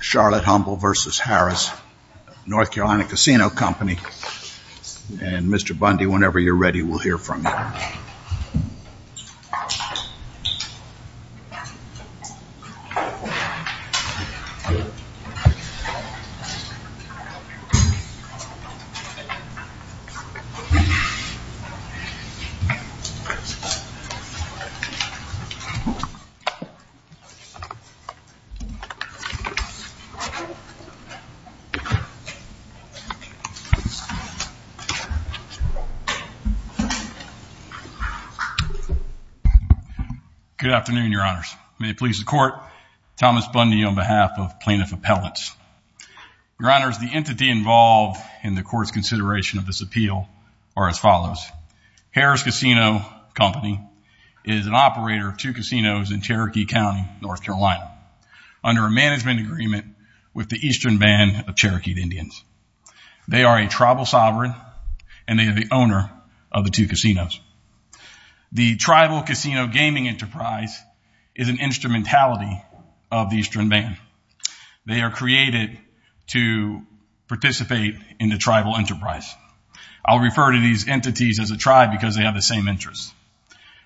Charlotte Humble v. Harrah's North Carolina Casino Company and Mr. Bundy whenever you're ready. We'll hear from Thomas Bundy on behalf of plaintiff appellants. Your honors, the entity involved in the court's consideration of this appeal are as follows. Harrah's Casino Company is an operator of two with the Eastern Band of Cherokee Indians. They are a tribal sovereign and they are the owner of the two casinos. The tribal casino gaming enterprise is an instrumentality of the Eastern Band. They are created to participate in the tribal enterprise. I'll refer to these entities as a tribe because they have the same interests.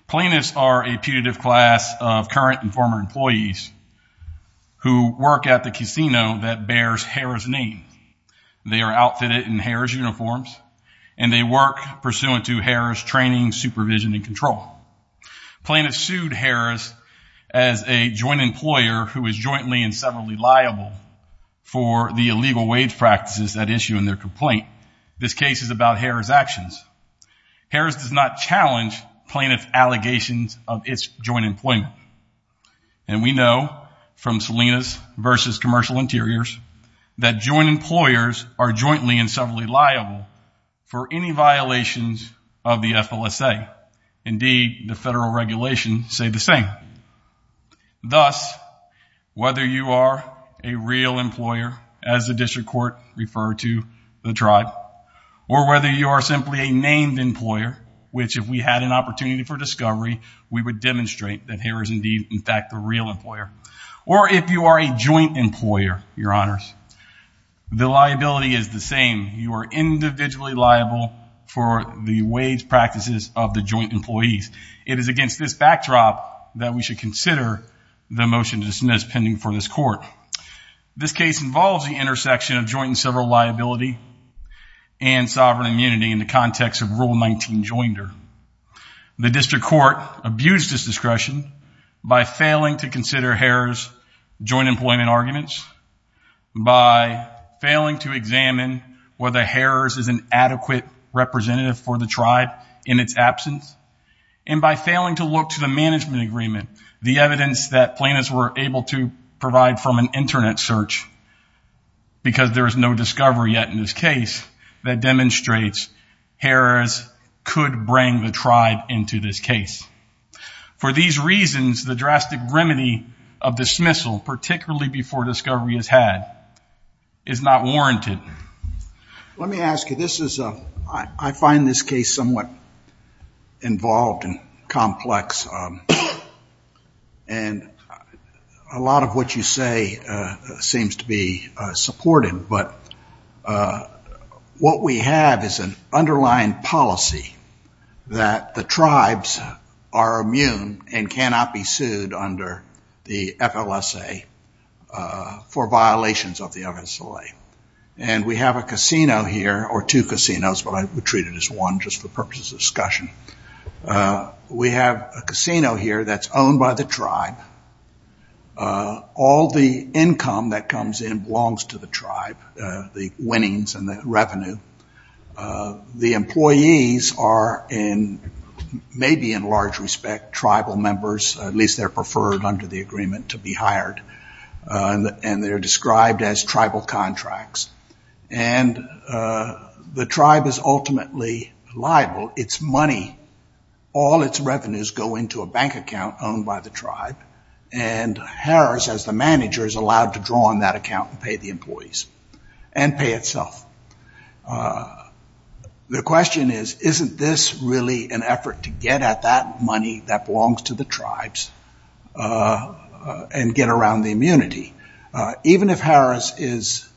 Plaintiffs are a putative class of current and that bears Harrah's name. They are outfitted in Harrah's uniforms and they work pursuant to Harrah's training, supervision, and control. Plaintiffs sued Harrah's as a joint employer who is jointly and severally liable for the illegal wage practices at issue in their complaint. This case is about Harrah's actions. Harrah's does not challenge plaintiff allegations of its joint employment. We know from Salinas v. Commercial Interiors that joint employers are jointly and severally liable for any violations of the FLSA. Indeed, the federal regulations say the same. Thus, whether you are a real employer, as the district court referred to the tribe, or whether you are simply a named employer, which if we had an opportunity for that Harrah is indeed in fact a real employer, or if you are a joint employer, your honors, the liability is the same. You are individually liable for the wage practices of the joint employees. It is against this backdrop that we should consider the motion to dismiss pending for this court. This case involves the intersection of joint and several liability and sovereign immunity in the context of Rule 19 joinder. The district court abused this discretion by failing to consider Harrah's joint employment arguments, by failing to examine whether Harrah's is an adequate representative for the tribe in its absence, and by failing to look to the management agreement, the evidence that plaintiffs were able to provide from an internet search, because there is no discovery yet in this case that demonstrates Harrah's could bring the tribe into this case. For these reasons, the drastic remedy of dismissal, particularly before discovery is had, is not warranted. Let me ask you, I find this case somewhat involved and complex, and a lot of what you say seems to be supported, but what we have is an underlying policy that the tribes are immune and cannot be sued under the FLSA for violations of the FSLA. We have a casino here, or two casinos, but I would treat it as one just for purposes of discussion. We have a casino here that's owned by the tribe. All the income that comes in belongs to the tribe, the winnings and the revenue. The employees are in, maybe in large respect, tribal members, at least they're preferred under the agreement to be hired, and they're described as tribal all its revenues go into a bank account owned by the tribe, and Harrah's as the manager is allowed to draw on that account and pay the employees, and pay itself. The question is, isn't this really an effort to get at that money that belongs to the tribes and get around the immunity? Even if Harrah's is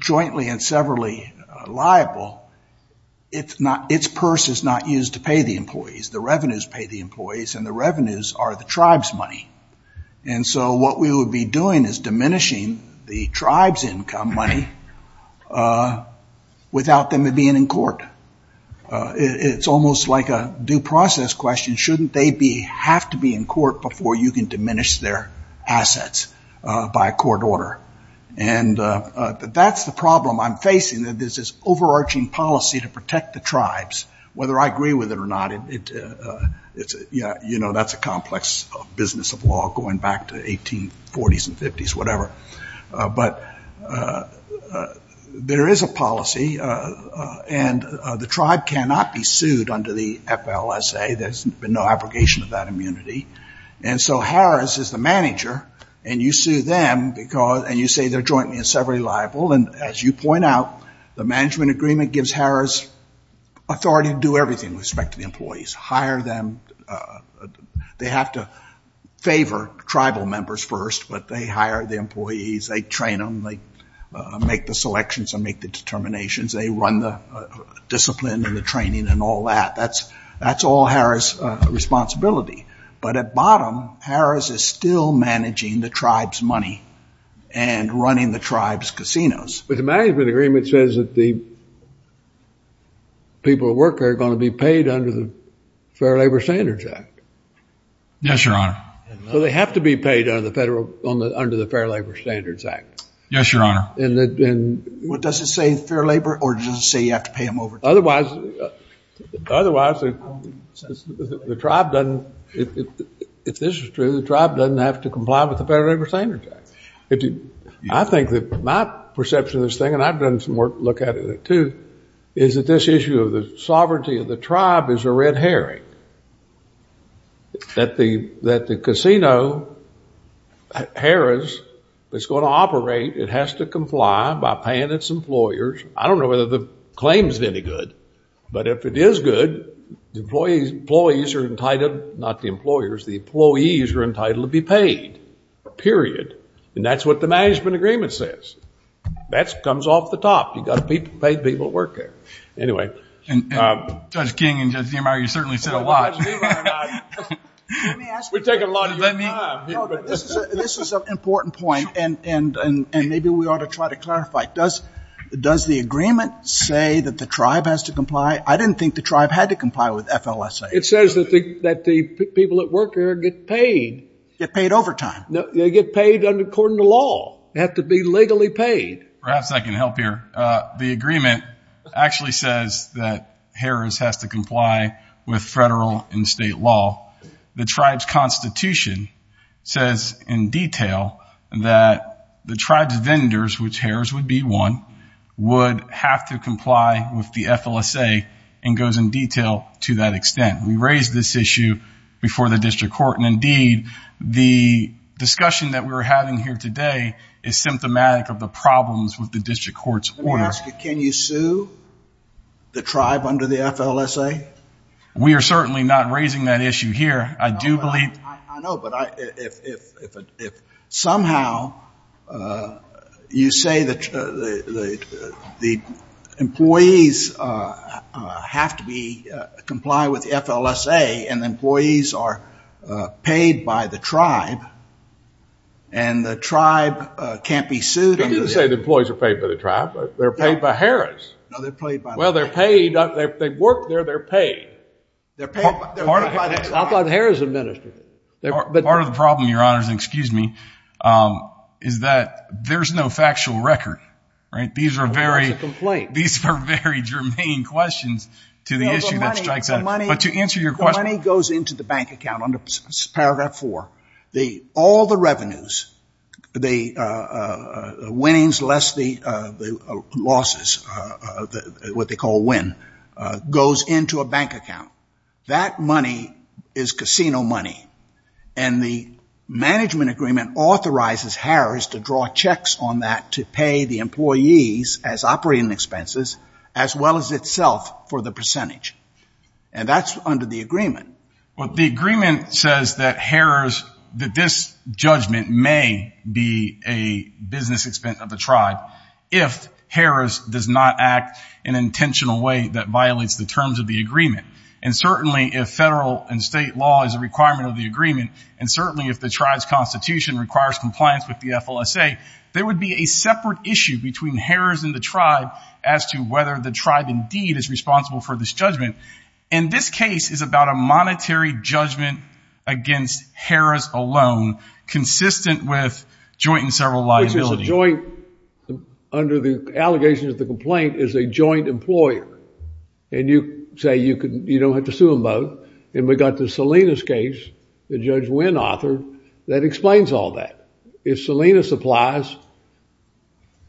jointly and severally liable, it's purse is not used to pay the employees. The revenues pay the employees, and the revenues are the tribe's money. What we would be doing is diminishing the tribe's income money without them being in court. It's almost like a due process question. Shouldn't they have to be in court before you can diminish their assets by a court order? And that's the problem I'm facing, that there's this overarching policy to protect the tribes, whether I agree with it or not. That's a complex business of law going back to 1840s and 50s, whatever. But there is a policy, and the tribe cannot be sued under the FLSA. There's been no immunity. And so Harrah's is the manager, and you sue them, and you say they're jointly and severally liable. And as you point out, the management agreement gives Harrah's authority to do everything with respect to the employees. They have to favor tribal members first, but they hire the employees, they train them, they make the selections and make the But at bottom, Harrah's is still managing the tribe's money and running the tribe's casinos. But the management agreement says that the people who work there are going to be paid under the Fair Labor Standards Act. Yes, Your Honor. So they have to be paid under the Fair Labor Standards Act. Yes, Your Honor. What does it say, Fair Labor, or does it say you have to pay them overtime? Otherwise, the tribe doesn't, if this is true, the tribe doesn't have to comply with the Fair Labor Standards Act. I think that my perception of this thing, and I've done some work to look at it too, is that this issue of the sovereignty of the tribe is a red herring. That the casino Harrah's is going to operate, it has to comply by paying its employers. I don't know whether the But if it is good, the employees are entitled, not the employers, the employees are entitled to be paid, period. And that's what the management agreement says. That comes off the top. You've got to pay the people who work there. Anyway. And Judge King and Judge Niemeyer, you certainly said a lot. We're taking a lot of your time. This is an important point, and maybe we ought to try to clarify. Does the agreement say that the tribe has to comply? I didn't think the tribe had to comply with FLSA. It says that the people that work there get paid. Get paid overtime. They get paid according to law. They have to be legally paid. Perhaps I can help here. The agreement actually says that Harrah's has to comply with federal and state law. The tribe's vendors, which Harrah's would be one, would have to comply with the FLSA, and goes in detail to that extent. We raised this issue before the district court, and indeed, the discussion that we're having here today is symptomatic of the problems with the district court's order. Can you sue the tribe under the FLSA? We are certainly not raising that issue here. I do believe. I know, but if somehow you say that the employees have to comply with the FLSA, and the employees are paid by the tribe, and the tribe can't be sued. They didn't say the employees are paid by the tribe. They're paid by Harrah's. No, they're paid by the tribe. Well, they're paid. They work there. They're paid. I thought Harrah's administered it. Part of the problem, your honors, excuse me, is that there's no factual record. These are very germane questions to the issue that strikes out. But to answer your question. The money goes into the bank account under paragraph four. All the revenues, the winnings less the losses, what they call win, goes into a bank account. That money is casino money. And the management agreement authorizes Harrah's to draw checks on that to pay the employees as operating expenses, as well as itself for the percentage. And that's under the agreement. Well, the agreement says that Harrah's, that this judgment may be a business expense of the tribe if Harrah's does not act in an intentional way that violates the terms of the agreement. And certainly if federal and state law is a requirement of the agreement, and certainly if the tribe's constitution requires compliance with the FLSA, there would be a separate issue between Harrah's and the tribe as to whether the tribe indeed is responsible for this judgment. And this case is about a monetary judgment against Harrah's alone, consistent with joint and several liabilities. Which is a joint, under the allegations of the complaint, is a joint employer. And you say you don't have to sue them both. And we got the Salinas case, that Judge Wynn authored, that explains all that. If Salinas applies,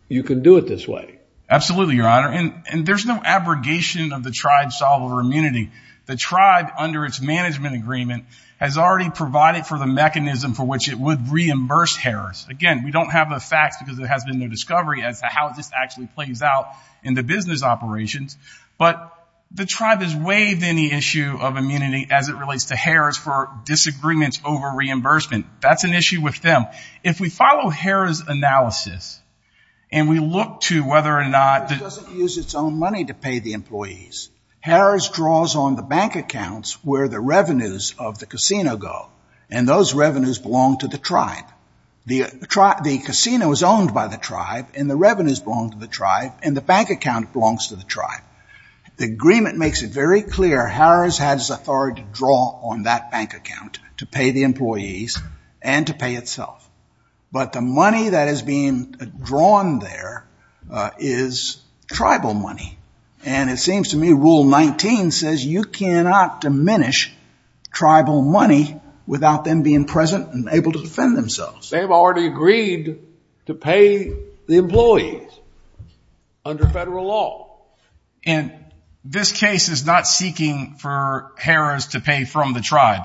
you can do it this way. Absolutely, Your Honor. And there's no abrogation of the tribe's sovereign immunity. The tribe, under its management agreement, has already provided for the mechanism for which it would reimburse Harrah's. Again, we don't have the facts because there has been no discovery as to how this actually plays out in the business operations. But the tribe has waived any issue of immunity as it relates to Harrah's for disagreements over reimbursement. That's an issue with them. If we follow Harrah's analysis, and we look to whether or not... Harrah's doesn't use its own money to pay the employees. Harrah's draws on the bank accounts where the revenues of the casino go. And those revenues belong to the tribe. The casino is owned by the tribe, and the revenues belong to the tribe, and the bank account belongs to the tribe. The agreement makes it very clear Harrah's has authority to draw on that bank account to pay the employees and to pay itself. But the money that is being drawn there is tribal money. And it seems to me Rule 19 says you cannot diminish tribal money without them being present and able to defend themselves. They've already agreed to pay the employees under federal law. And this case is not seeking for Harrah's to pay from the tribe.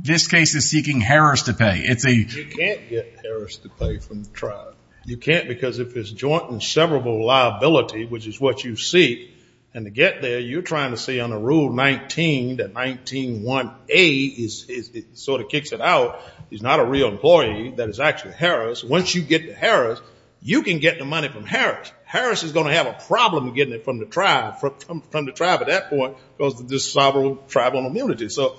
This case is seeking Harrah's to pay. It's a... You can't get Harrah's to pay from the tribe. You can't because of his joint and severable liability, which is what you seek. And to get there, you're trying to see under Rule 19 that 19-1A sort of kicks it out. He's not a real employee. That is actually Harrah's. Once you get Harrah's, you can get the money from Harrah's. Harrah's is going to have a problem getting it from the tribe at that point because of the tribal immunity. So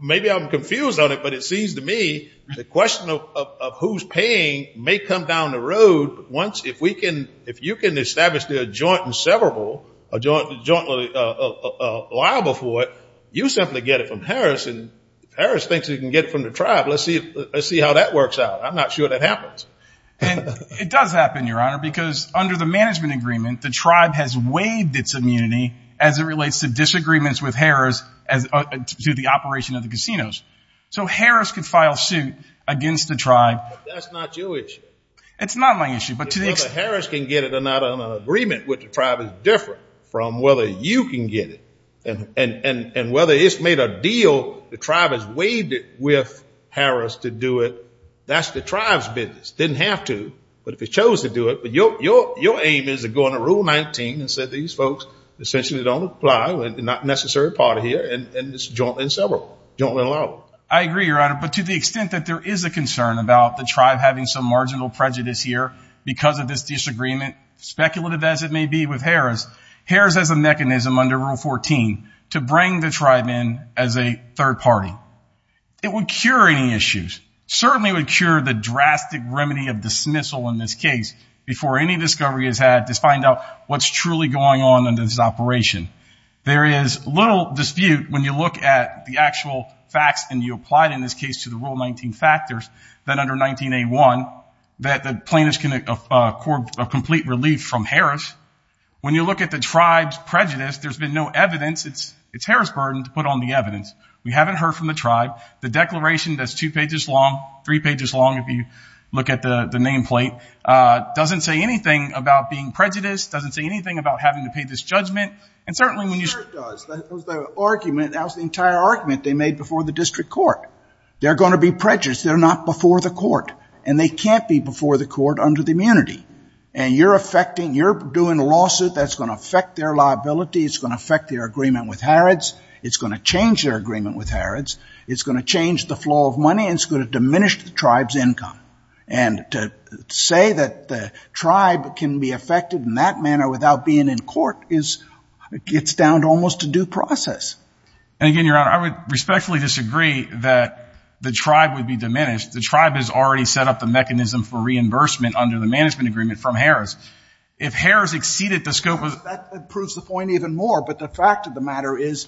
maybe I'm confused on it, but it seems to me the question of who's paying may come down the road once if you can establish the joint and severable, a joint liable for it, you simply get it from Harrah's. And Harrah's can get it from the tribe. Let's see how that works out. I'm not sure that happens. It does happen, Your Honor, because under the management agreement, the tribe has waived its immunity as it relates to disagreements with Harrah's as to the operation of the casinos. So Harrah's could file suit against the tribe. But that's not your issue. It's not my issue, but to the extent... Whether Harrah's can get it or not on an agreement with the tribe is different from whether you can get it. And whether it's made a tribe has waived it with Harrah's to do it. That's the tribe's business. Didn't have to, but if it chose to do it, but your aim is to go into rule 19 and said, these folks essentially don't apply. We're not necessary part of here. And it's joint and severable, joint and liable. I agree, Your Honor. But to the extent that there is a concern about the tribe having some marginal prejudice here because of this disagreement, speculative as it may be with Harrah's, Harrah's has a mechanism under rule 14 to bring the tribe in as a third party. It would cure any issues. Certainly would cure the drastic remedy of dismissal in this case before any discovery is had to find out what's truly going on under this operation. There is little dispute when you look at the actual facts and you apply it in this case to the rule 19 factors that under 19A1 that the plaintiffs can accord a complete relief from when you look at the tribe's prejudice, there's been no evidence. It's Harrah's burden to put on the evidence. We haven't heard from the tribe. The declaration that's two pages long, three pages long, if you look at the nameplate, doesn't say anything about being prejudiced, doesn't say anything about having to pay this judgment. And certainly when you- I'm sure it does. The argument, that was the entire argument they made before the district court. They're going to be prejudiced. They're not before the court and they can't be before the court under the immunity. And you're affecting, you're doing a lawsuit that's going to affect their liability. It's going to affect their agreement with Harrods. It's going to change their agreement with Harrods. It's going to change the flow of money and it's going to diminish the tribe's income. And to say that the tribe can be affected in that manner without being in court is, it gets down to almost a due process. And again, your honor, I would respectfully disagree that the tribe would be diminished. The tribe has already set up the mechanism for reimbursement under the management agreement from Harrods. If Harrods exceeded the scope of- That proves the point even more. But the fact of the matter is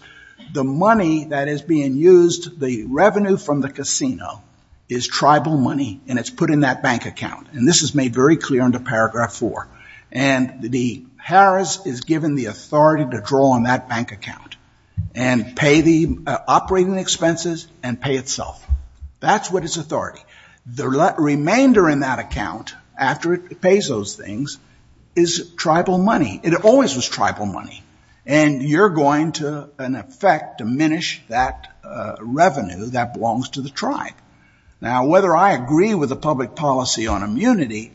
the money that is being used, the revenue from the casino is tribal money and it's put in that bank account. And this is made very clear under paragraph four. And the Harrods is given the authority to draw on that bank account and pay the operating expenses and pay itself. That's what is authority. The remainder in that after it pays those things is tribal money. It always was tribal money. And you're going to, in effect, diminish that revenue that belongs to the tribe. Now, whether I agree with the public policy on immunity,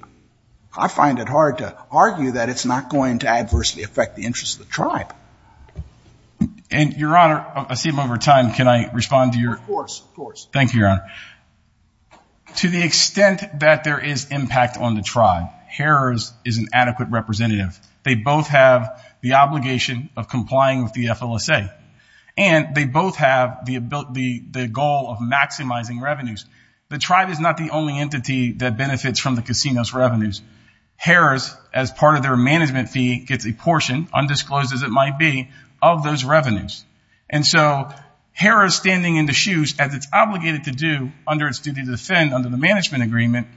I find it hard to argue that it's not going to adversely affect the interest of the tribe. And your honor, I see him over time. Can I respond to your- Of course, of course. Thank you, your honor. To the extent that there is impact on the tribe, Harrods is an adequate representative. They both have the obligation of complying with the FLSA. And they both have the goal of maximizing revenues. The tribe is not the only entity that benefits from the casino's revenues. Harrods, as part of their management fee, gets a portion, undisclosed as it might be, of those revenues. And so Harrods standing in the shoes, as it's obligated to do under its duty to defend under the management agreement,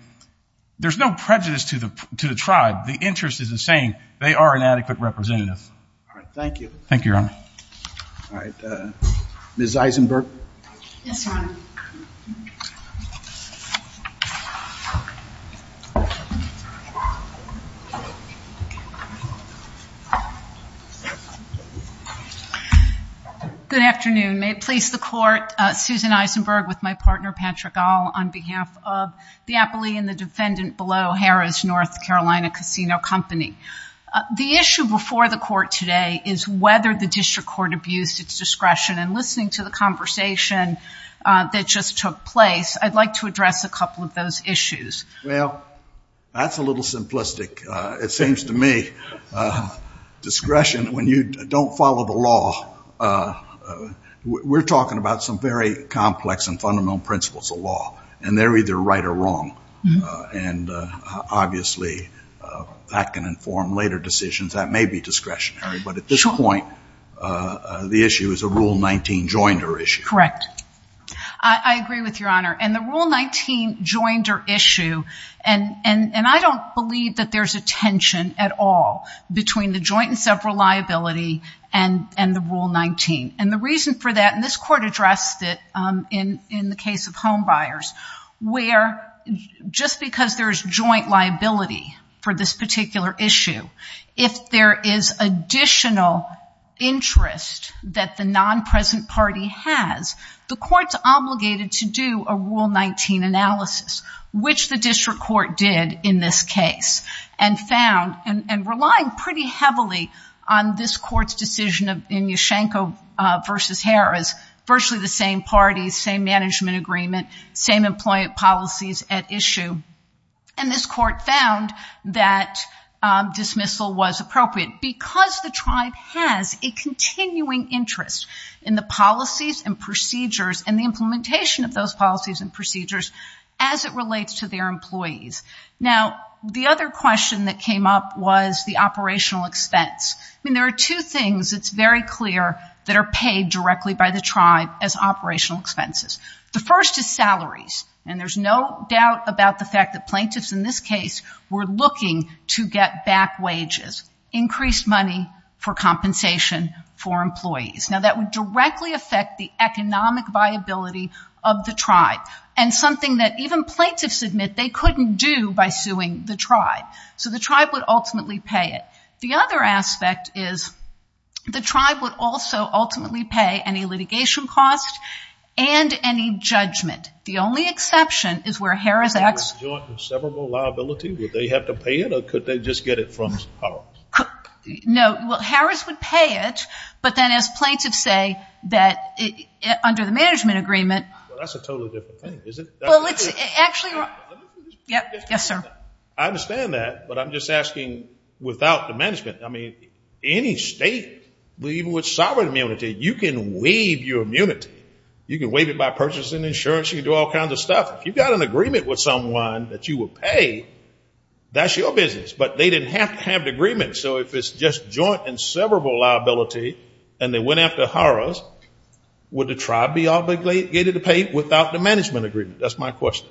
there's no prejudice to the tribe. The interest is the same. They are an adequate representative. All right. Thank you. Thank you, your honor. All right. Ms. Eisenberg. Yes, your honor. Thank you. Good afternoon. May it please the court, Susan Eisenberg with my partner, Patrick Gahl, on behalf of the appellee and the defendant below Harrods North Carolina Casino Company. The issue before the court today is whether the district court abused its discretion. And listening to the conversation that just took place, I'd like to address a couple of those issues. Well, that's a little simplistic. It seems to me discretion, when you don't follow the law, we're talking about some very complex and fundamental principles of law. And they're either right or wrong. And obviously, that can inform later decisions. That may be discretionary. But at this point, the issue is a Rule 19 joinder issue. Correct. I agree with your honor. And the Rule 19 joinder issue, and I don't believe that there's a tension at all between the joint and several liability and the Rule 19. And the reason for that, and this court addressed it in the case of homebuyers, where just because there's joint liability for this particular issue, if there is additional interest that the non-present party has, the court's obligated to do a Rule 19 analysis, which the district court did in this case, and found, and relying pretty heavily on this court's decision in Ushanko versus Harris, virtually the same parties, same management agreement, same employment policies at issue. And this court found that dismissal was appropriate because the tribe has a continuing interest in the policies and procedures and the implementation of those policies and procedures as it relates to their employees. Now, the other question that came up was the operational expense. I mean, there are two things, it's very clear, that are paid directly by the tribe as operational expenses. The first is salaries, and there's no doubt about the fact that plaintiffs in this case were looking to get back wages, increased money for compensation for employees. Now, that would directly affect the economic viability of the tribe, and something that even plaintiffs admit they couldn't do by suing the tribe. So the tribe would ultimately pay it. The other aspect is the tribe would also ultimately pay any litigation cost and any judgment. The only exception is where Harris acts... Would they have to pay it, or could they just get it from Harris? No, well, Harris would pay it, but then as plaintiffs say that under the management agreement... Well, that's a totally different thing, isn't it? Well, it's actually... Yes, sir. I understand that, but I'm just asking without the management. I mean, any state, even with sovereign immunity, you can waive your immunity. You can waive it by purchasing insurance, you can do all kinds of stuff. If you've got an agreement with someone that you will pay, that's your business. But they didn't have to have the agreement, so if it's just joint and severable liability, and they went after Harris, would the tribe be obligated to pay without the management agreement? That's my question.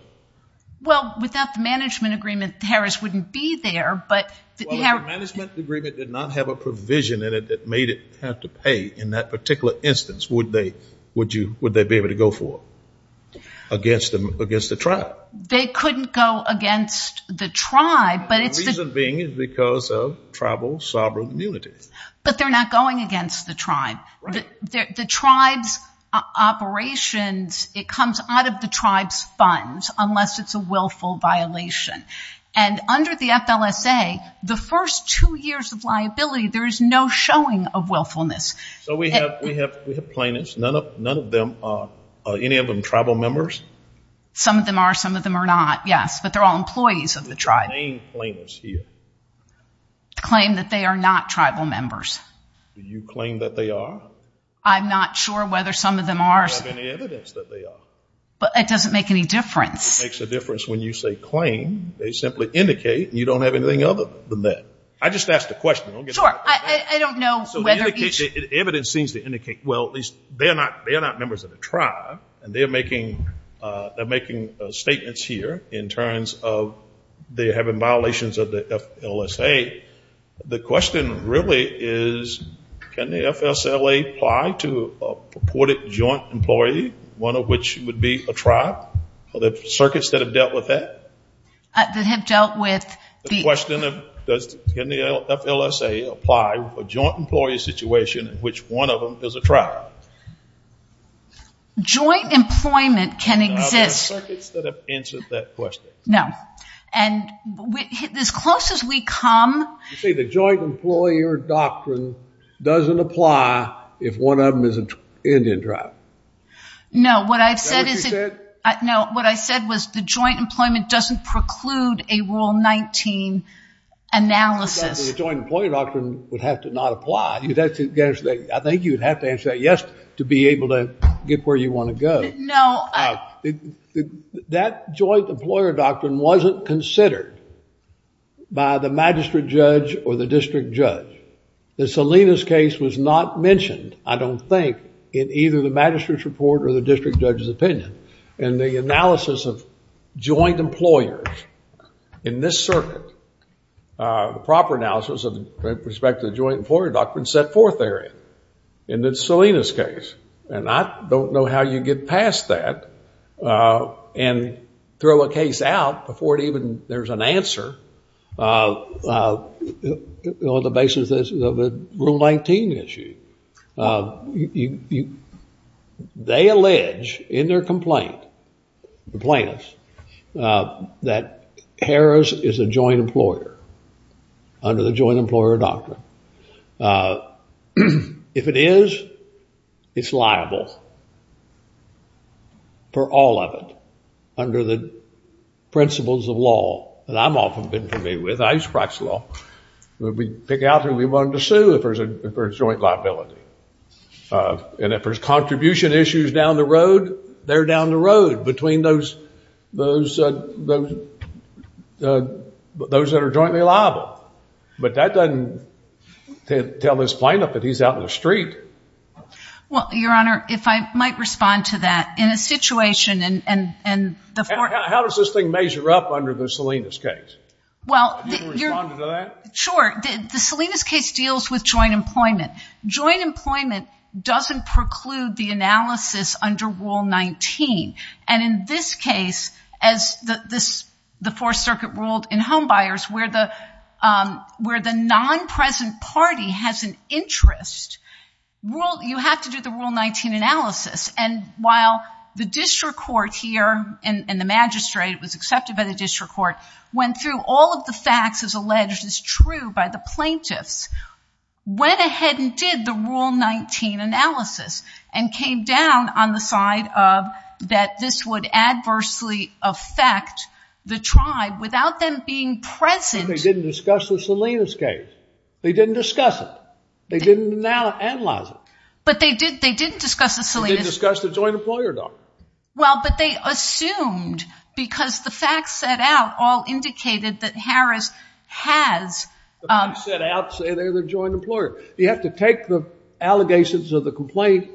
Well, without the management agreement, Harris wouldn't be there, but... Well, if the management agreement did not have a provision in it that made it have to pay, in that particular instance, would they be able to go for it against the tribe? They couldn't go against the tribe, but it's... The reason being is because of tribal sovereign immunity. But they're not going against the tribe. The tribe's operations, it comes out of the tribe's unless it's a willful violation. And under the FLSA, the first two years of liability, there is no showing of willfulness. So we have plaintiffs, none of them are, any of them tribal members? Some of them are, some of them are not, yes, but they're all employees of the tribe. Who's the main plaintiffs here? The claim that they are not tribal members. Do you claim that they are? I'm not sure whether some of them are. Do you have any evidence that they are? But it doesn't make any difference. It makes a difference when you say claim. They simply indicate you don't have anything other than that. I just asked a question. Sure, I don't know whether each... Evidence seems to indicate, well, at least they're not members of the tribe, and they're making statements here in terms of they're having violations of the FLSA. The question really is, can the FSLA apply to a purported joint employee, one of which would be a tribe? Are there circuits that have dealt with that? That have dealt with the... The question of, can the FLSA apply a joint employee situation in which one of them is a tribe? Joint employment can exist... Are there circuits that have answered that question? No, and as close as we come... You see, the joint employer doctrine doesn't apply if one of them is an Indian tribe. No, what I've said is... Is that what you said? No, what I said was the joint employment doesn't preclude a Rule 19 analysis. The joint employer doctrine would have to not apply. I think you'd have to answer that yes to be able to get where you want to go. No, I... That joint employer doctrine wasn't considered by the magistrate judge or the district judge. The Salinas case was not mentioned, I don't think, in either the magistrate's report or the district judge's opinion. And the analysis of joint employers in this circuit, the proper analysis of respect to the joint employer doctrine set forth therein, in the Salinas case. And I don't know how you get past that and throw a case out before it even... There's an answer on the basis of a Rule 19 issue. You... They allege in their complaint, the plaintiffs, that Harris is a joint employer under the joint employer doctrine. If it is, it's liable for all of it under the principles of law that I've often been familiar with. I used to practice law. We'd pick out who we wanted to sue if there's a joint liability. And if there's contribution issues down the road, they're down the road between those that are jointly liable. But that doesn't tell this plaintiff that he's out in the street. Well, Your Honor, if I might respond to that. In a situation and the... How does this thing measure up under the Salinas case? Well... Sure. The Salinas case deals with joint employment. Joint employment doesn't preclude the analysis under Rule 19. And in this case, as the Fourth Circuit ruled in Homebuyers, where the non-present party has an interest, you have to do the Rule 19 analysis. And while the district court here, and the magistrate was accepted by the district court, went through all of the facts as alleged as true by the plaintiffs, went ahead and did the Rule 19 analysis and came down on the side of that this would adversely affect the tribe without them being present. But they didn't discuss the Salinas case. They didn't discuss it. They didn't analyze it. But they did. They didn't discuss the Salinas... They didn't discuss the joint employer document. Well, but they assumed because the facts set out all indicated that Harris has... The facts set out say they're the joint employer. You have to take the allegations of the complaint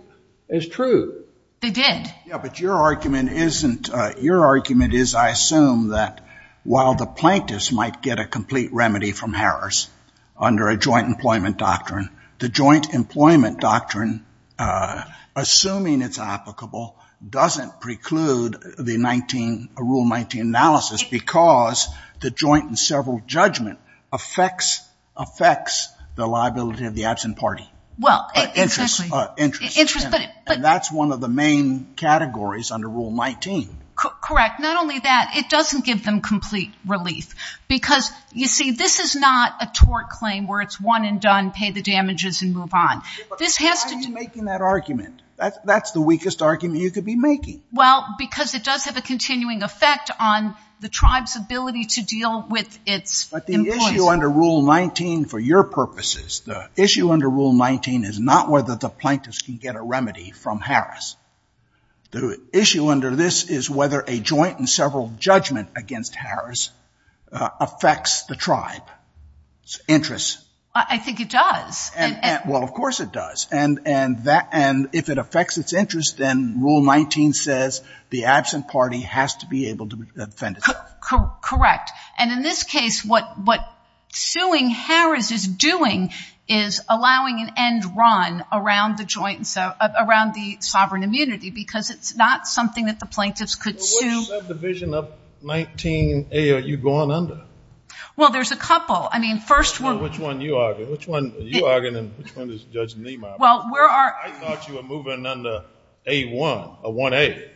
as true. They did. Yeah, but your argument isn't... Your argument is, I assume, that while the plaintiffs might get a complete remedy from Harris under a joint employment doctrine, the joint employment doctrine, assuming it's applicable, doesn't preclude the Rule 19 analysis because the joint and several judgment affects the liability of the absent party. Well, it... Interest. Interest, but... That's one of the main categories under Rule 19. Correct. Not only that, it doesn't give them complete relief. Because, you see, this is not a tort claim where it's one and done, pay the damages and move on. This has to... Why are you making that argument? That's the weakest argument you could be making. Well, because it does have a continuing effect on the tribe's ability to deal with its... But the issue under Rule 19, for your purposes, the issue under Rule 19 is not whether the plaintiffs can get a remedy from Harris. The issue under this is whether a joint and several judgment against Harris affects the tribe's interests. I think it does. Well, of course it does. And if it affects its interest, then Rule 19 says the absent party has to be able to defend itself. Correct. And in this case, what suing Harris is doing is allowing an end run around the joint and around the sovereign immunity, because it's not something that the plaintiffs could sue. Which subdivision of 19A are you going under? Well, there's a couple. I mean, first we're... You're arguing which one is Judge Nima. Well, where are... I thought you were moving under A1 or 1A.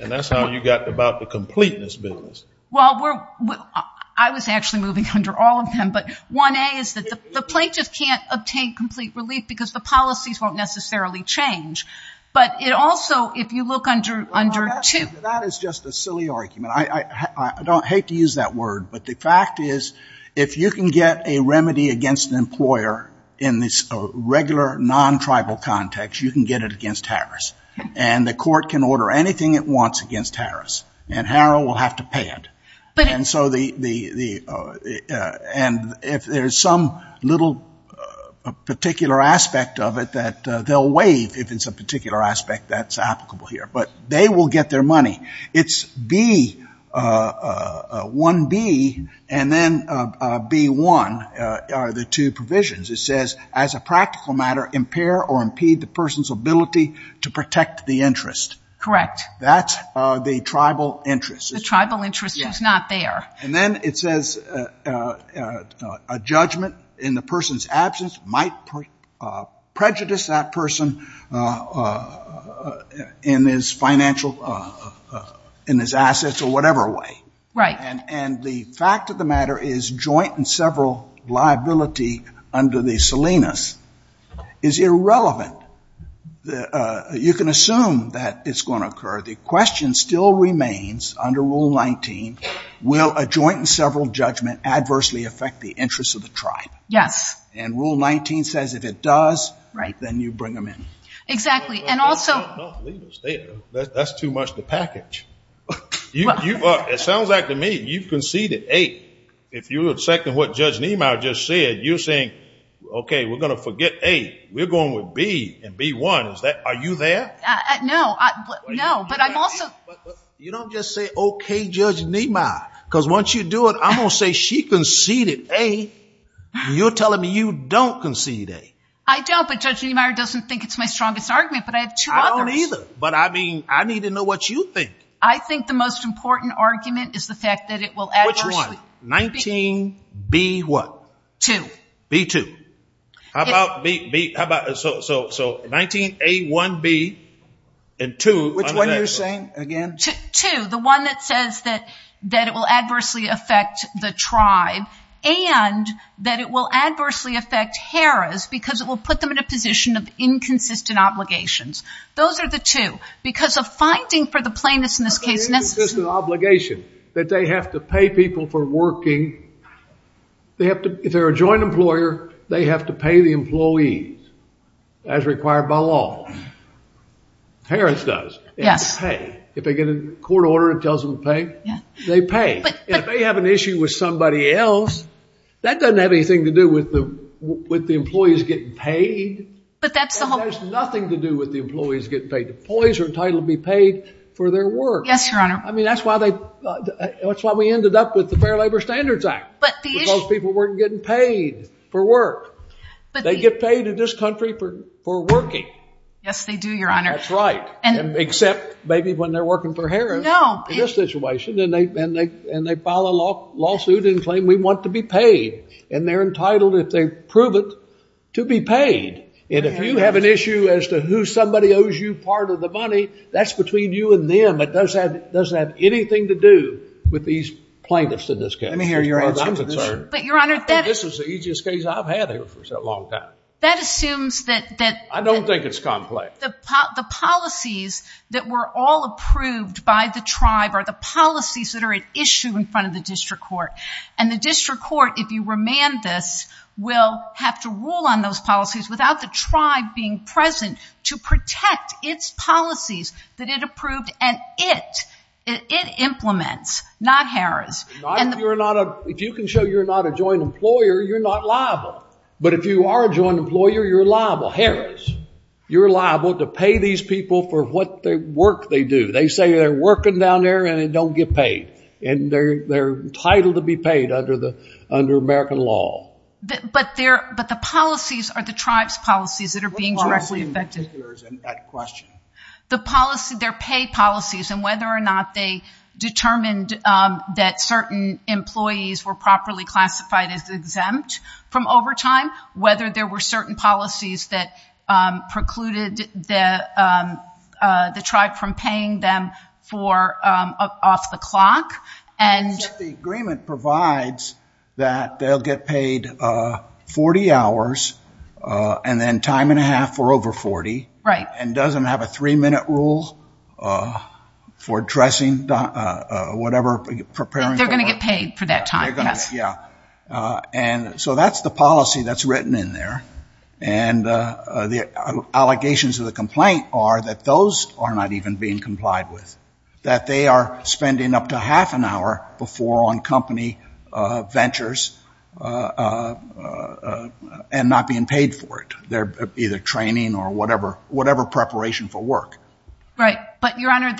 And that's how you got about the completeness business. Well, I was actually moving under all of them. But 1A is that the plaintiffs can't obtain complete relief because the policies won't necessarily change. But it also, if you look under 2... That is just a silly argument. I don't hate to use that word. But the fact is, if you can get a remedy against an employer in this regular, non-tribal context, you can get it against Harris. And the court can order anything it wants against Harris. And Harrell will have to pay it. And if there's some little particular aspect of it that they'll waive if it's a particular aspect that's applicable here. But they will get their money. It's 1B and then B1 are the two provisions. It says, as a practical matter, impair or impede the person's ability to protect the interest. Correct. That's the tribal interest. The tribal interest is not there. And then it says a judgment in the person's absence might prejudice that person in his financial, in his assets, or whatever way. Right. And the fact of the matter is joint and several liability under the Salinas is irrelevant. You can assume that it's going to occur. The question still remains under Rule 19, will a joint and several judgment adversely affect the interests of the tribe? Yes. And Rule 19 says if it does, then you bring them in. Exactly. And also... Leave us there. That's too much to package. It sounds like to me, you've conceded A. If you would second what Judge Niemeyer just said, you're saying, okay, we're going to forget A. We're going with B and B1. Is that... Are you there? No. No. But I'm also... You don't just say, okay, Judge Niemeyer. Because once you do it, I'm going to say she conceded A. You're telling me you don't concede A. I don't. But Judge Niemeyer doesn't think it's my strongest argument. I don't either. But I mean, I need to know what you think. I think the most important argument is the fact that it will... Which one? 19B what? Two. B2. How about B? How about... So 19A1B and two... Which one are you saying again? Two. The one that says that it will adversely affect the tribe and that it will adversely affect Harris because it will put them in a position of inconsistent obligations. Those are the two. Because of finding for the plaintiffs in this case... That's not an inconsistent obligation. That they have to pay people for working. They have to... If they're a joint employer, they have to pay the employees as required by law. Harris does. They have to pay. If they get a court order that tells them to pay, they pay. And if they have an issue with somebody else, that doesn't have anything to do with the employees getting paid. But that's the whole... It has nothing to do with the employees getting paid. The employees are entitled to be paid for their work. Yes, Your Honor. I mean, that's why we ended up with the Fair Labor Standards Act. But the issue... Because people weren't getting paid for work. But they get paid in this country for working. Yes, they do, Your Honor. That's right. And... Except maybe when they're working for Harris. No. In this situation, and they file a lawsuit and claim, we want to be paid. And they're entitled, if they prove it, to be paid. And if you have an issue as to who somebody owes you part of the money, that's between you and them. It doesn't have anything to do with these plaintiffs in this case. Let me hear your answer to this. But, Your Honor, that... This is the easiest case I've had here for such a long time. That assumes that... I don't think it's complex. The policies that were all approved by the tribe are the policies that are at issue in front of the district court. And the district court, if you remand this, will have to rule on those policies without the tribe being present to protect its policies that it approved and it implements, not Harris. If you can show you're not a joint employer, you're not liable. But if you are a joint employer, you're liable. Harris, you're liable to pay these people for what work they do. They say they're working down there and they don't get paid. And they're entitled to be paid under American law. But the policies are the tribe's policies that are being directly affected. What are we in particular in that question? They're paid policies. And whether or not they determined that certain employees were properly classified as exempt from overtime, whether there were certain policies that precluded the tribe from paying them for off the clock. And the agreement provides that they'll get paid 40 hours and then time and a half for over 40. Right. And doesn't have a three minute rule for addressing whatever preparing. They're going to get paid for that time. Yeah. And so that's the policy that's written in there. And the allegations of the complaint are that those are not even being complied with. That they are spending up to half an hour before on company ventures and not being paid for it. They're either training or whatever preparation for work. Right. But Your Honor,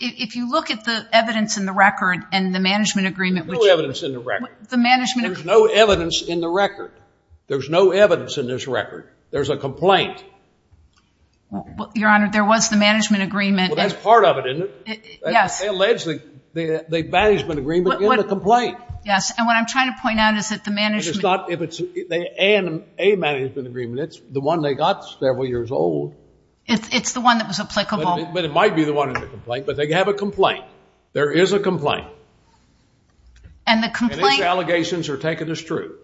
if you look at the evidence in the record and the management agreement. No evidence in the record. The management. There's no evidence in the record. There's no evidence in this record. There's a complaint. Your Honor, there was the management agreement. Well, that's part of it, isn't it? Yes. Allegedly, the management agreement in the complaint. Yes. And what I'm trying to point out is that the management. It's not if it's a management agreement. It's the one they got several years old. It's the one that was applicable. But it might be the one in the complaint, but they have a complaint. There is a complaint. And the complaint. And his allegations are taken as true.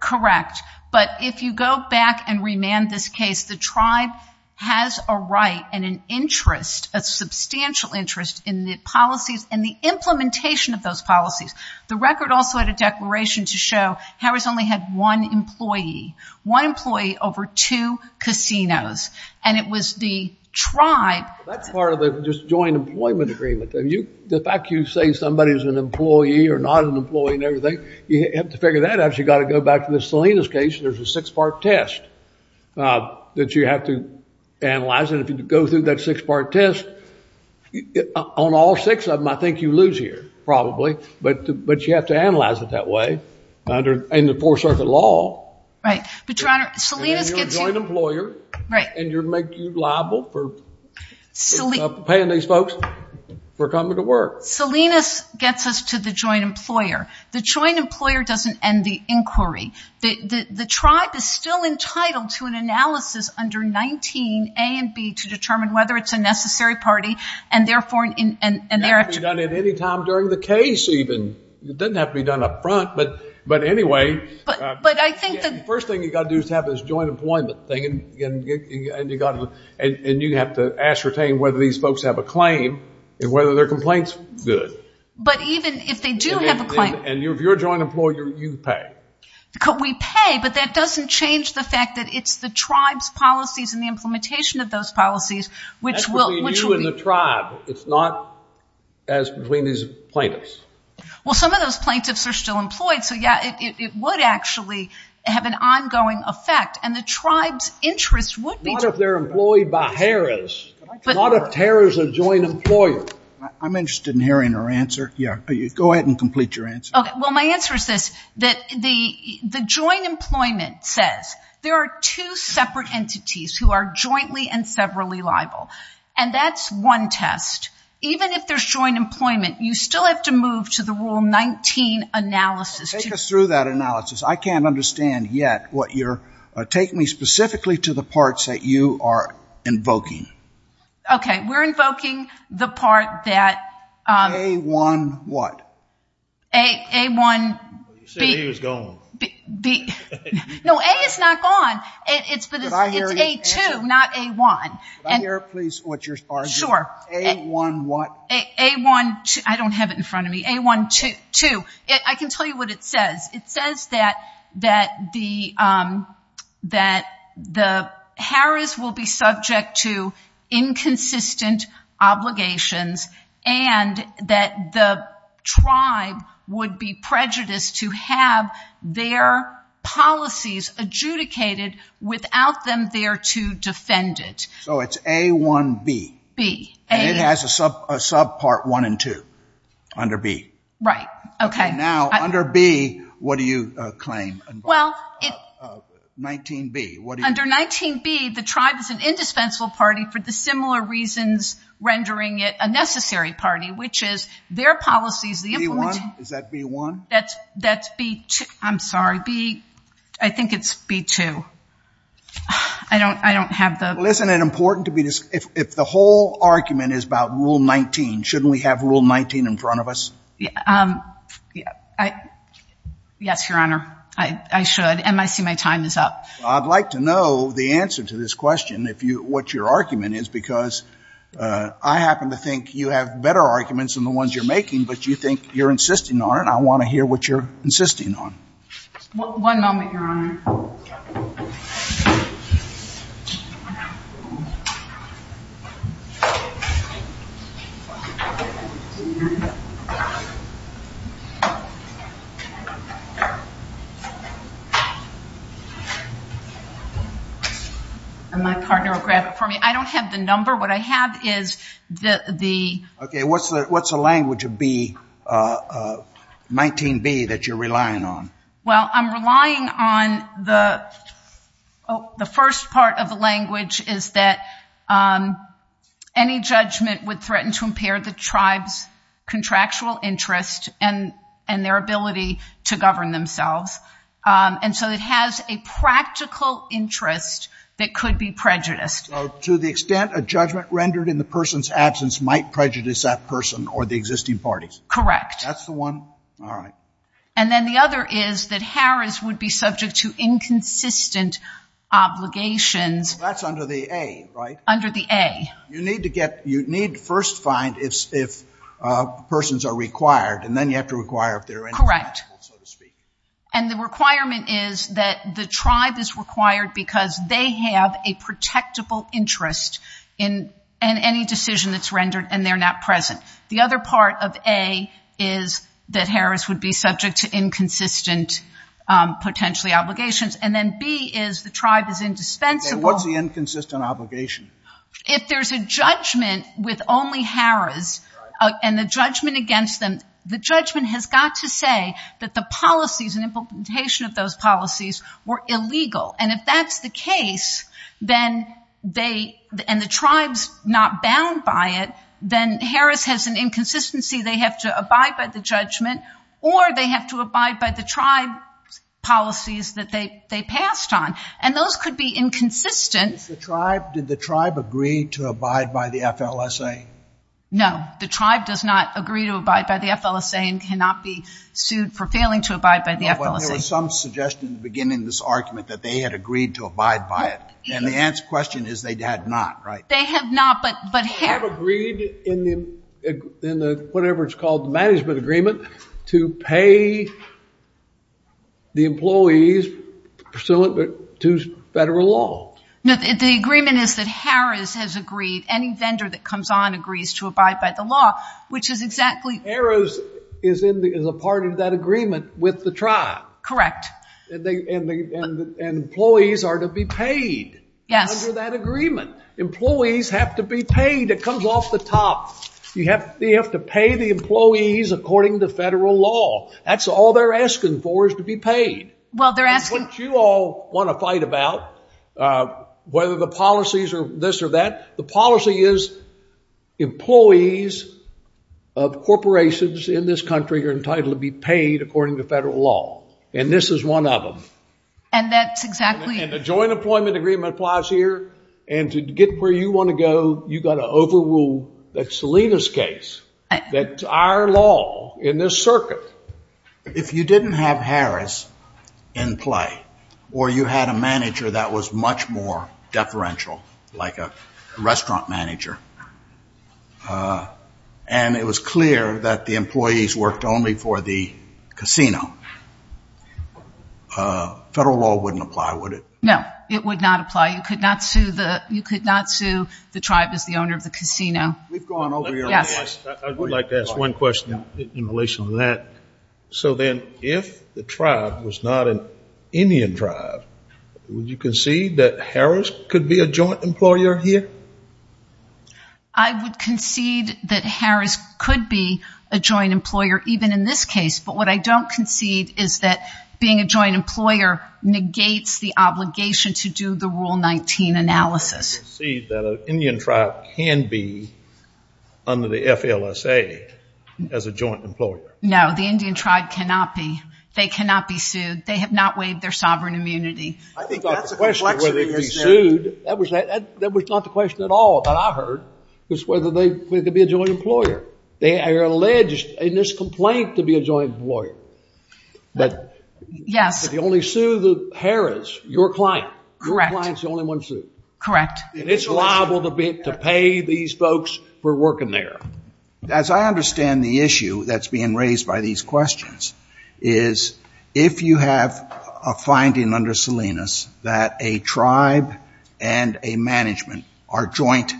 Correct. But if you go back and remand this case, the tribe has a right and an interest, a substantial interest in the policies and the implementation of those policies. The record also had a declaration to show Harris only had one employee. One employee over two casinos. And it was the tribe. That's part of the joint employment agreement. The fact you say somebody is an employee or not an employee and everything, you have to figure that out. You've got to go back to the Salinas case. There's a six-part test that you have to analyze. And if you go through that six-part test, on all six of them, I think you lose here. Probably. But you have to analyze it that way. And the four-circuit law. Right. But Your Honor, Salinas gets you- And you're a joint employer. Right. Make you liable for paying these folks for coming to work. Salinas gets us to the joint employer. The joint employer doesn't end the inquiry. The tribe is still entitled to an analysis under 19 A and B to determine whether it's a necessary party, and therefore- It doesn't have to be done at any time during the case, even. It doesn't have to be done up front. But anyway, the first thing you've got to do is have this joint employment thing. And you have to ascertain whether these folks have a claim and whether their complaint's good. But even if they do have a claim- And if you're a joint employer, you pay. Because we pay. But that doesn't change the fact that it's the tribe's policies and the implementation of those policies, which will- That's between you and the tribe. It's not as between these plaintiffs. Well, some of those plaintiffs are still employed. So yeah, it would actually have an ongoing effect. And the tribe's interest would be- Not if they're employed by Harris. Not if Harris is a joint employer. I'm interested in hearing her answer. Yeah. Go ahead and complete your answer. OK. Well, my answer is this. That the joint employment says there are two separate entities who are jointly and severally liable. And that's one test. Even if there's joint employment, you still have to move to the Rule 19 analysis. Take us through that analysis. I can't understand yet what you're- Take me specifically to the parts that you are invoking. OK. We're invoking the part that- A1 what? A1- You said he was gone. No, A is not gone. It's A2, not A1. Can I hear, please, what your argument is? Sure. A1 what? I don't have it in front of me. A1-2. I can tell you what it says. It says that the Harris will be subject to inconsistent obligations and that the tribe would be prejudiced to have their policies adjudicated without them there to defend it. So it's A1-B. B. And it has a subpart 1 and 2 under B. Right. OK. Now, under B, what do you claim? 19-B, what do you- Under 19-B, the tribe is an indispensable party for the similar reasons rendering it a necessary party, which is their policies- B1? Is that B1? That's B2. I'm sorry. I think it's B2. I don't have the- Isn't it important to be- If the whole argument is about Rule 19, shouldn't we have Rule 19 in front of us? I- yes, Your Honor. I should. And I see my time is up. I'd like to know the answer to this question, what your argument is. Because I happen to think you have better arguments than the ones you're making, but you think you're insisting on it. I want to hear what you're insisting on. One moment, Your Honor. And my partner will grab it for me. I don't have the number. What I have is the- OK, what's the language of 19-B that you're relying on? Well, I'm relying on the- the first part of the language is that any judgment would threaten to impair the tribe's ability to govern themselves. And so it has a practical interest that could be prejudiced. To the extent a judgment rendered in the person's absence might prejudice that person or the existing parties? Correct. That's the one? All right. And then the other is that Harris would be subject to inconsistent obligations. That's under the A, right? Under the A. You need to get- you need to first find if- if Correct. And the requirement is that the tribe is required because they have a protectable interest in any decision that's rendered, and they're not present. The other part of A is that Harris would be subject to inconsistent, potentially, obligations. And then B is the tribe is indispensable- What's the inconsistent obligation? If there's a judgment with only Harris and the judgment against them, the judgment has got to say that the policies and implementation of those policies were illegal. And if that's the case, then they- and the tribe's not bound by it, then Harris has an inconsistency. They have to abide by the judgment, or they have to abide by the tribe's policies that they- they passed on. And those could be inconsistent. If the tribe- did the tribe agree to abide by the FLSA? No. The tribe does not agree to abide by the FLSA and cannot be sued for failing to abide by the FLSA. There was some suggestion at the beginning of this argument that they had agreed to abide by it. And the answer question is they had not, right? They have not, but- But have agreed in the- in the- whatever it's called, the management agreement to pay the employees pursuant to federal law. No, the agreement is that Harris has agreed, any vendor that comes on agrees to abide by the law, which is exactly- Harris is in the- is a part of that agreement with the tribe. Correct. And employees are to be paid. Yes. Under that agreement. Employees have to be paid. It comes off the top. You have- they have to pay the employees according to federal law. That's all they're asking for is to be paid. Well, they're asking- It's what you all want to fight about, whether the policies are this or that. The policy is employees of corporations in this country are entitled to be paid according to federal law. And this is one of them. And that's exactly- And the joint employment agreement applies here. And to get where you want to go, you've got to overrule that Salinas case. That's our law in this circuit. If you didn't have Harris in play, or you had a manager that was much more deferential, like a restaurant manager, and it was clear that the employees worked only for the casino, federal law wouldn't apply, would it? No, it would not apply. You could not sue the tribe as the owner of the casino. We've gone over your- Yes. I would like to ask one question in relation to that. So then if the tribe was not an Indian tribe, would you concede that Harris could be a joint employer here? I would concede that Harris could be a joint employer, even in this case. But what I don't concede is that being a joint employer negates the obligation to do the Rule 19 analysis. Do you concede that an Indian tribe can be under the FLSA as a joint employer? No, the Indian tribe cannot be. They cannot be sued. They have not waived their sovereign immunity. I think that's a confliction. Whether they'd be sued, that was not the question at all that I heard, was whether they could be a joint employer. They are alleged in this complaint to be a joint employer. But- Yes. If you only sue the Harris, your client, your client's the only one sued. Correct. It's liable to pay these folks for working there. As I understand the issue that's being raised by these questions, is if you have a finding under Salinas that a tribe and a management are joint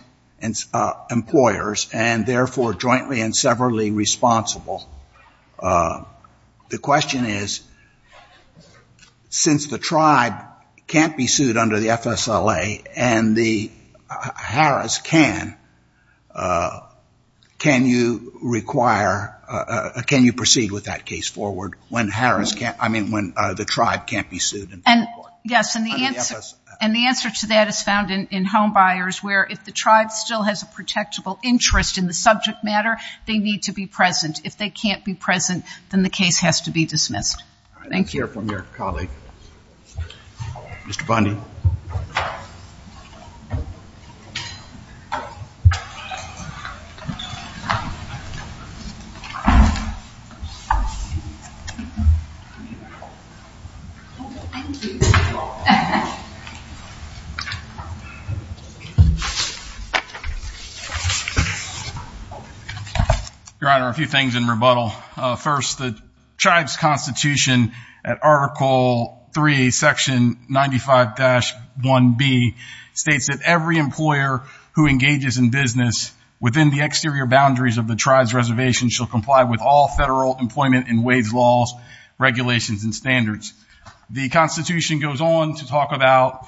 employers, and therefore jointly and severally responsible, the question is, since the tribe can't be sued under the FSLA, and the Harris can, can you require- can you proceed with that case forward when Harris can't- I mean, when the tribe can't be sued in federal court? Yes, and the answer to that is found in homebuyers, where if the tribe still has a protectable interest in the subject matter, they need to be present. If they can't be present, then the case has to be dismissed. Thank you. Let's hear from your colleague. Mr. Bundy. Thank you. Your Honor, a few things in rebuttal. First, the tribe's constitution at Article III, Section 95-1B, states that every employer who engages in business within the exterior boundaries of the tribe's reservation shall comply with all federal employment and wage laws, regulations, and standards. The constitution goes on to talk about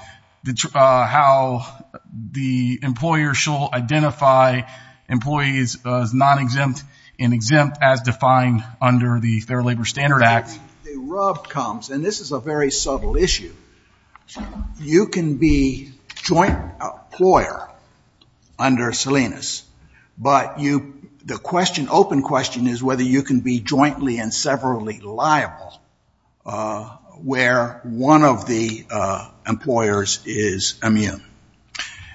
how the employer shall identify employees as non-exempt and exempt as defined under the Fair Labor Standard Act. The rub comes, and this is a very subtle issue. You can be joint employer under Salinas, but you- the question, open question, is whether you can be jointly and severally liable where one of the employers is immune.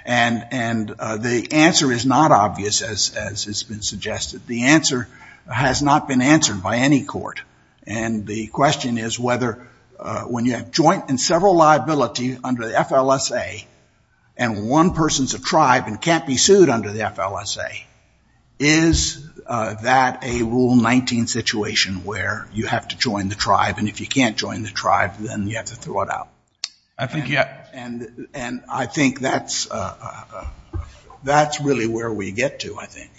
And the answer is not obvious, as has been suggested. The answer has not been answered by any court. And the question is whether when you have joint and several liability under the FLSA and one person's a tribe and can't be sued under the FLSA, is that a Rule 19 situation where you have to join the tribe? And if you can't join the tribe, then you have to throw it out. I think, yeah. And I think that's really where we get to, I think.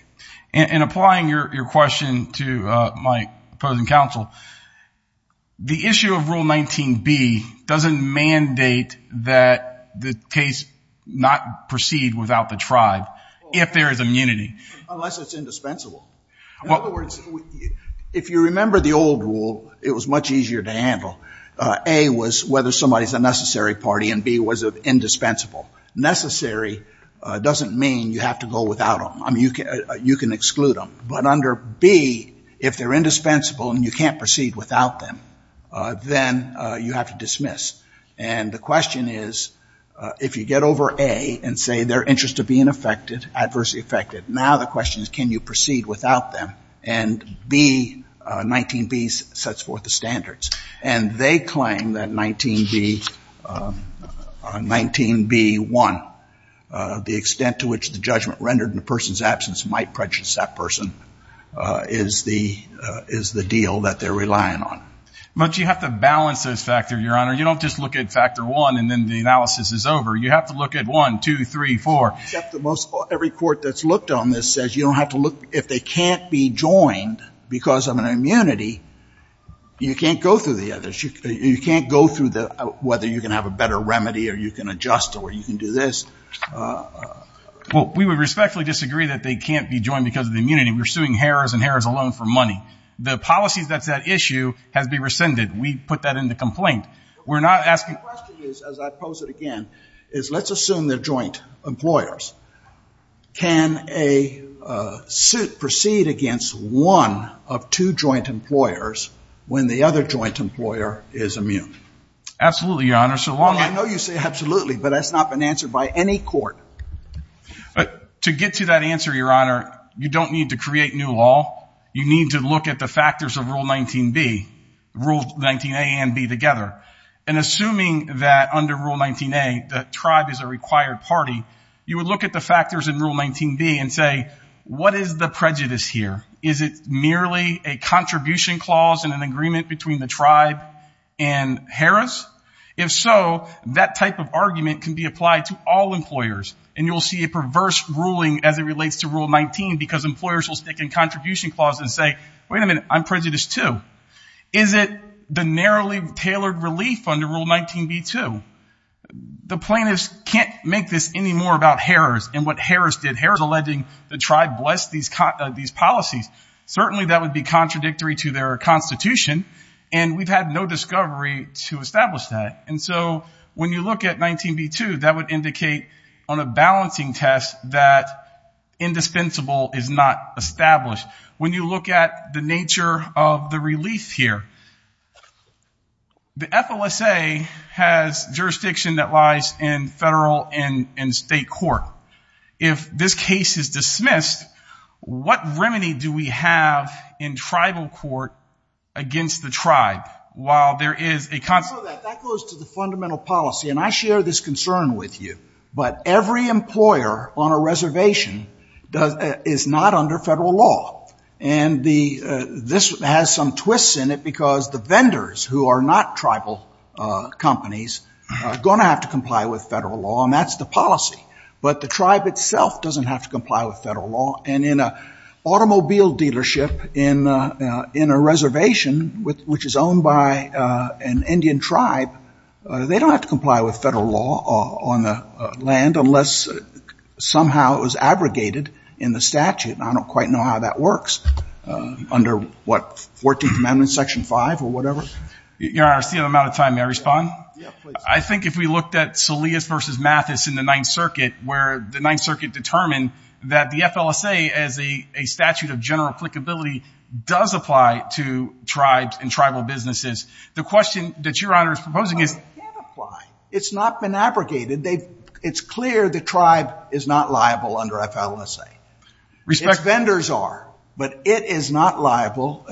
And applying your question to my opposing counsel, the issue of Rule 19b doesn't mandate that the case not proceed without the tribe, if there is immunity. Unless it's indispensable. If you remember the old rule, it was much easier to handle. A was whether somebody's a necessary party, and B was indispensable. Necessary doesn't mean you have to go without them. You can exclude them. But under B, if they're indispensable and you can't proceed without them, then you have to dismiss. And the question is, if you get over A and say they're interested in being affected, adversely affected, now the question is, can you proceed without them? And 19b sets forth the standards. And they claim that 19b1, the extent to which the judgment rendered a person's absence might prejudice that person, is the deal that they're relying on. But you have to balance those factors, Your Honor. You don't just look at factor 1 and then the analysis is over. You have to look at 1, 2, 3, 4. Every court that's looked on this says you don't have to look. If they can't be joined because of an immunity, you can't go through the others. You can't go through whether you can have a better remedy, or you can adjust, or you can do this. Well, we would respectfully disagree that they can't be joined because of the immunity. We're suing Harrahs and Harrahs alone for money. The policies that's at issue has been rescinded. We put that in the complaint. We're not asking. My question is, as I pose it again, is let's assume they're joint employers. Can a suit proceed against one of two joint employers when the other joint employer is immune? Absolutely, Your Honor, so long as. I know you say absolutely, but that's not been answered by any court. To get to that answer, Your Honor, you don't need to create new law. You need to look at the factors of Rule 19B, Rule 19A and 19B together. And assuming that under Rule 19A, the tribe is a required party, you would look at the factors in Rule 19B and say, what is the prejudice here? Is it merely a contribution clause in an agreement between the tribe and Harrahs? If so, that type of argument can be applied to all employers. And you'll see a perverse ruling as it relates to Rule 19, because employers will stick in contribution clause and say, wait a minute, I'm prejudice too. Is it the narrowly tailored relief under Rule 19B too? The plaintiffs can't make this any more about Harrahs and what Harrahs did. Harrahs alleging the tribe blessed these policies. Certainly, that would be contradictory to their constitution. And we've had no discovery to establish that. And so when you look at 19B too, that would indicate on a balancing test that indispensable is not established. When you look at the nature of the relief here, the FLSA has jurisdiction that lies in federal and state court. If this case is dismissed, what remedy do we have in tribal court against the tribe? While there is a constant- That goes to the fundamental policy. And I share this concern with you. But every employer on a reservation is not under federal law. And this has some twists in it, because the vendors who are not tribal companies are going to have to comply with federal law. And that's the policy. But the tribe itself doesn't have to comply with federal law. And in an automobile dealership in a reservation, which is owned by an Indian tribe, they don't have to comply with federal law on the land, unless somehow it was abrogated in the statute. I don't quite know how that works. Under what, 14th Amendment, Section 5, or whatever? Your Honor, I see I'm out of time. May I respond? Yeah, please. I think if we looked at Salias versus Mathis in the Ninth Circuit, where the Ninth Circuit determined that the FLSA, as a statute of general applicability, does apply to tribes and tribal businesses. The question that Your Honor is proposing is- No, it can't apply. It's not been abrogated. It's clear the tribe is not liable under FLSA. Respectfully. Its vendors are. But it is not liable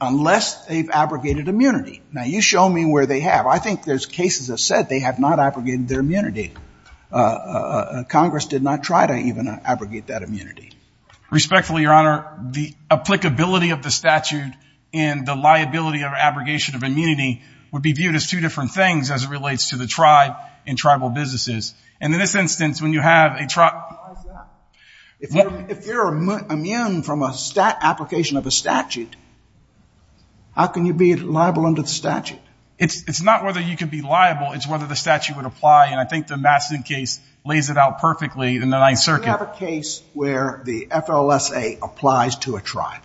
unless they've abrogated immunity. Now, you show me where they have. I think there's cases that said they have not abrogated their immunity. Congress did not try to even abrogate that immunity. Respectfully, Your Honor. The applicability of the statute and the liability of abrogation of immunity would be viewed as two different things as it relates to the tribe and tribal businesses. And in this instance, when you have a tribe- If you're immune from an application of a statute, how can you be liable under the statute? It's not whether you can be liable. It's whether the statute would apply. And I think the Mathison case lays it out perfectly in the Ninth Circuit. Do you have a case where the FLSA applies to a tribe?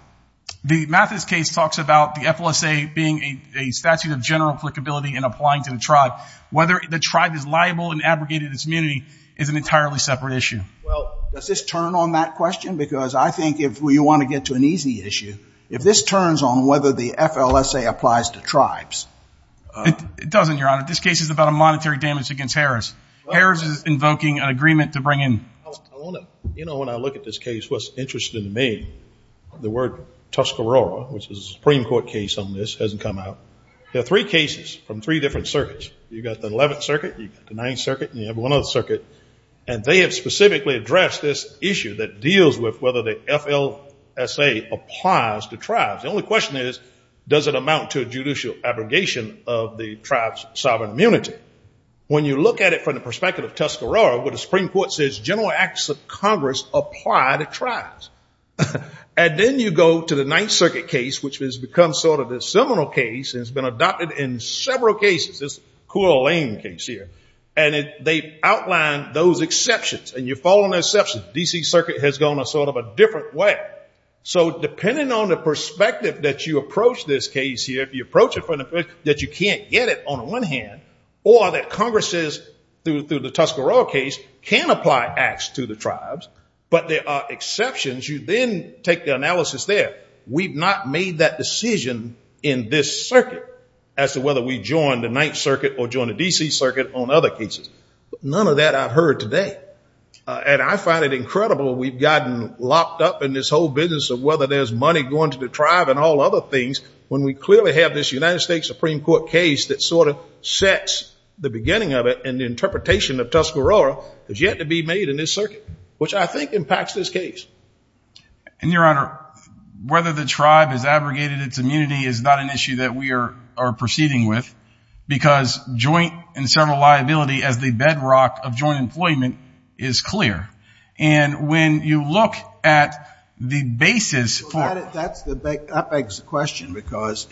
The Mathison case talks about the FLSA being a statute of general applicability and applying to the tribe. Whether the tribe is liable and abrogated its immunity is an entirely separate issue. Well, does this turn on that question? Because I think if you want to get to an easy issue, if this turns on whether the FLSA applies to tribes, it doesn't, Your Honor. This case is about a monetary damage against Harris. Harris is invoking an agreement to bring in- You know, when I look at this case, what's interesting to me, the word Tuscarora, which is a Supreme Court case on this, hasn't come out. There are three cases from three different circuits. You've got the Eleventh Circuit. You've got the Ninth Circuit. And you have one other circuit. And they have specifically addressed this issue that deals with whether the FLSA applies to tribes. The only question is, does it amount to a judicial abrogation of the tribe's sovereign immunity? When you look at it from the perspective of Tuscarora, where the Supreme Court says general acts of Congress apply to tribes. And then you go to the Ninth Circuit case, which has become sort of a seminal case. It's been adopted in several cases. This Cool Lane case here. And they've outlined those exceptions. And you follow an exception. D.C. Circuit has gone a sort of a different way. So depending on the perspective that you approach this case here, if you approach it from the perspective that you can't get it on one hand, or that Congress says, through the Tuscarora case, can apply acts to the tribes. But there are exceptions. You then take the analysis there. We've not made that decision in this circuit as to whether we join the Ninth Circuit or join the D.C. Circuit on other cases. But none of that I've heard today. And I find it incredible. We've gotten locked up in this whole business of whether there's money going to the tribe and all other things, when we clearly have this United States Supreme Court case that sort of sets the beginning of it. And the interpretation of Tuscarora has yet to be made in this circuit, which I think impacts this case. And, Your Honor, whether the tribe has abrogated its immunity is not an issue that we are proceeding with. Because joint and several liability as the bedrock of joint employment is clear. And when you look at the basis for it— That begs the question. Because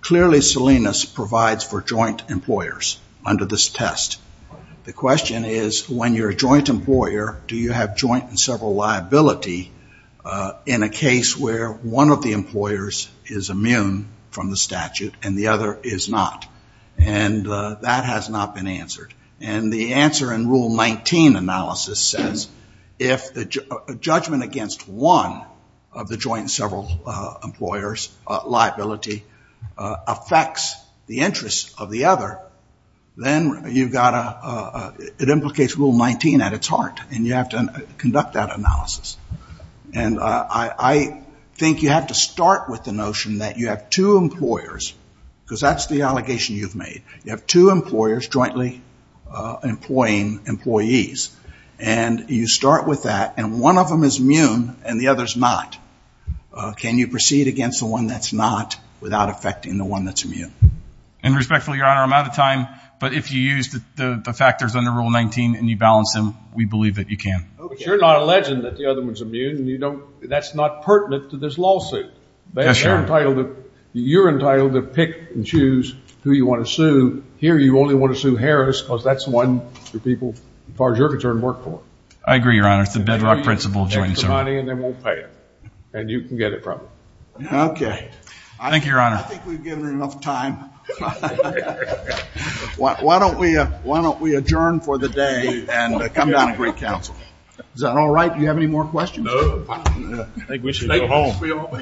clearly, Salinas provides for joint employers under this test. The question is, when you're a joint employer, do you have joint and several liability in a case where one of the employers is immune from the statute and the other is not? And that has not been answered. And the answer in Rule 19 analysis says, if the judgment against one of the joint and several employers, liability, affects the interests of the other, then it implicates Rule 19 at its heart. And you have to conduct that analysis. And I think you have to start with the notion that you have two employers, because that's the allegation you've made. You have two employers jointly employing employees. And you start with that. And one of them is immune and the other is not. Can you proceed against the one that's not without affecting the one that's immune? And respectfully, Your Honor, I'm out of time. But if you use the factors under Rule 19 and you balance them, we believe that you can. But you're not alleging that the other one's immune. And you don't—that's not pertinent to this lawsuit. They're entitled to—you're entitled to pick and choose who you want to sue. Here, you only want to sue Harris, because that's the one the people, as far as you're concerned, work for. I agree, Your Honor. It's the bedrock principle of joint and several. And they won't pay it. And you can get it from them. Okay. Thank you, Your Honor. I think we've given enough time. Why don't we adjourn for the day and come down and greet counsel? Is that all right? Do you have any more questions? No. I think we should go home. We all—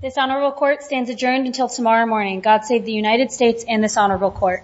This honorable court stands adjourned until tomorrow morning. God save the United States and this honorable court.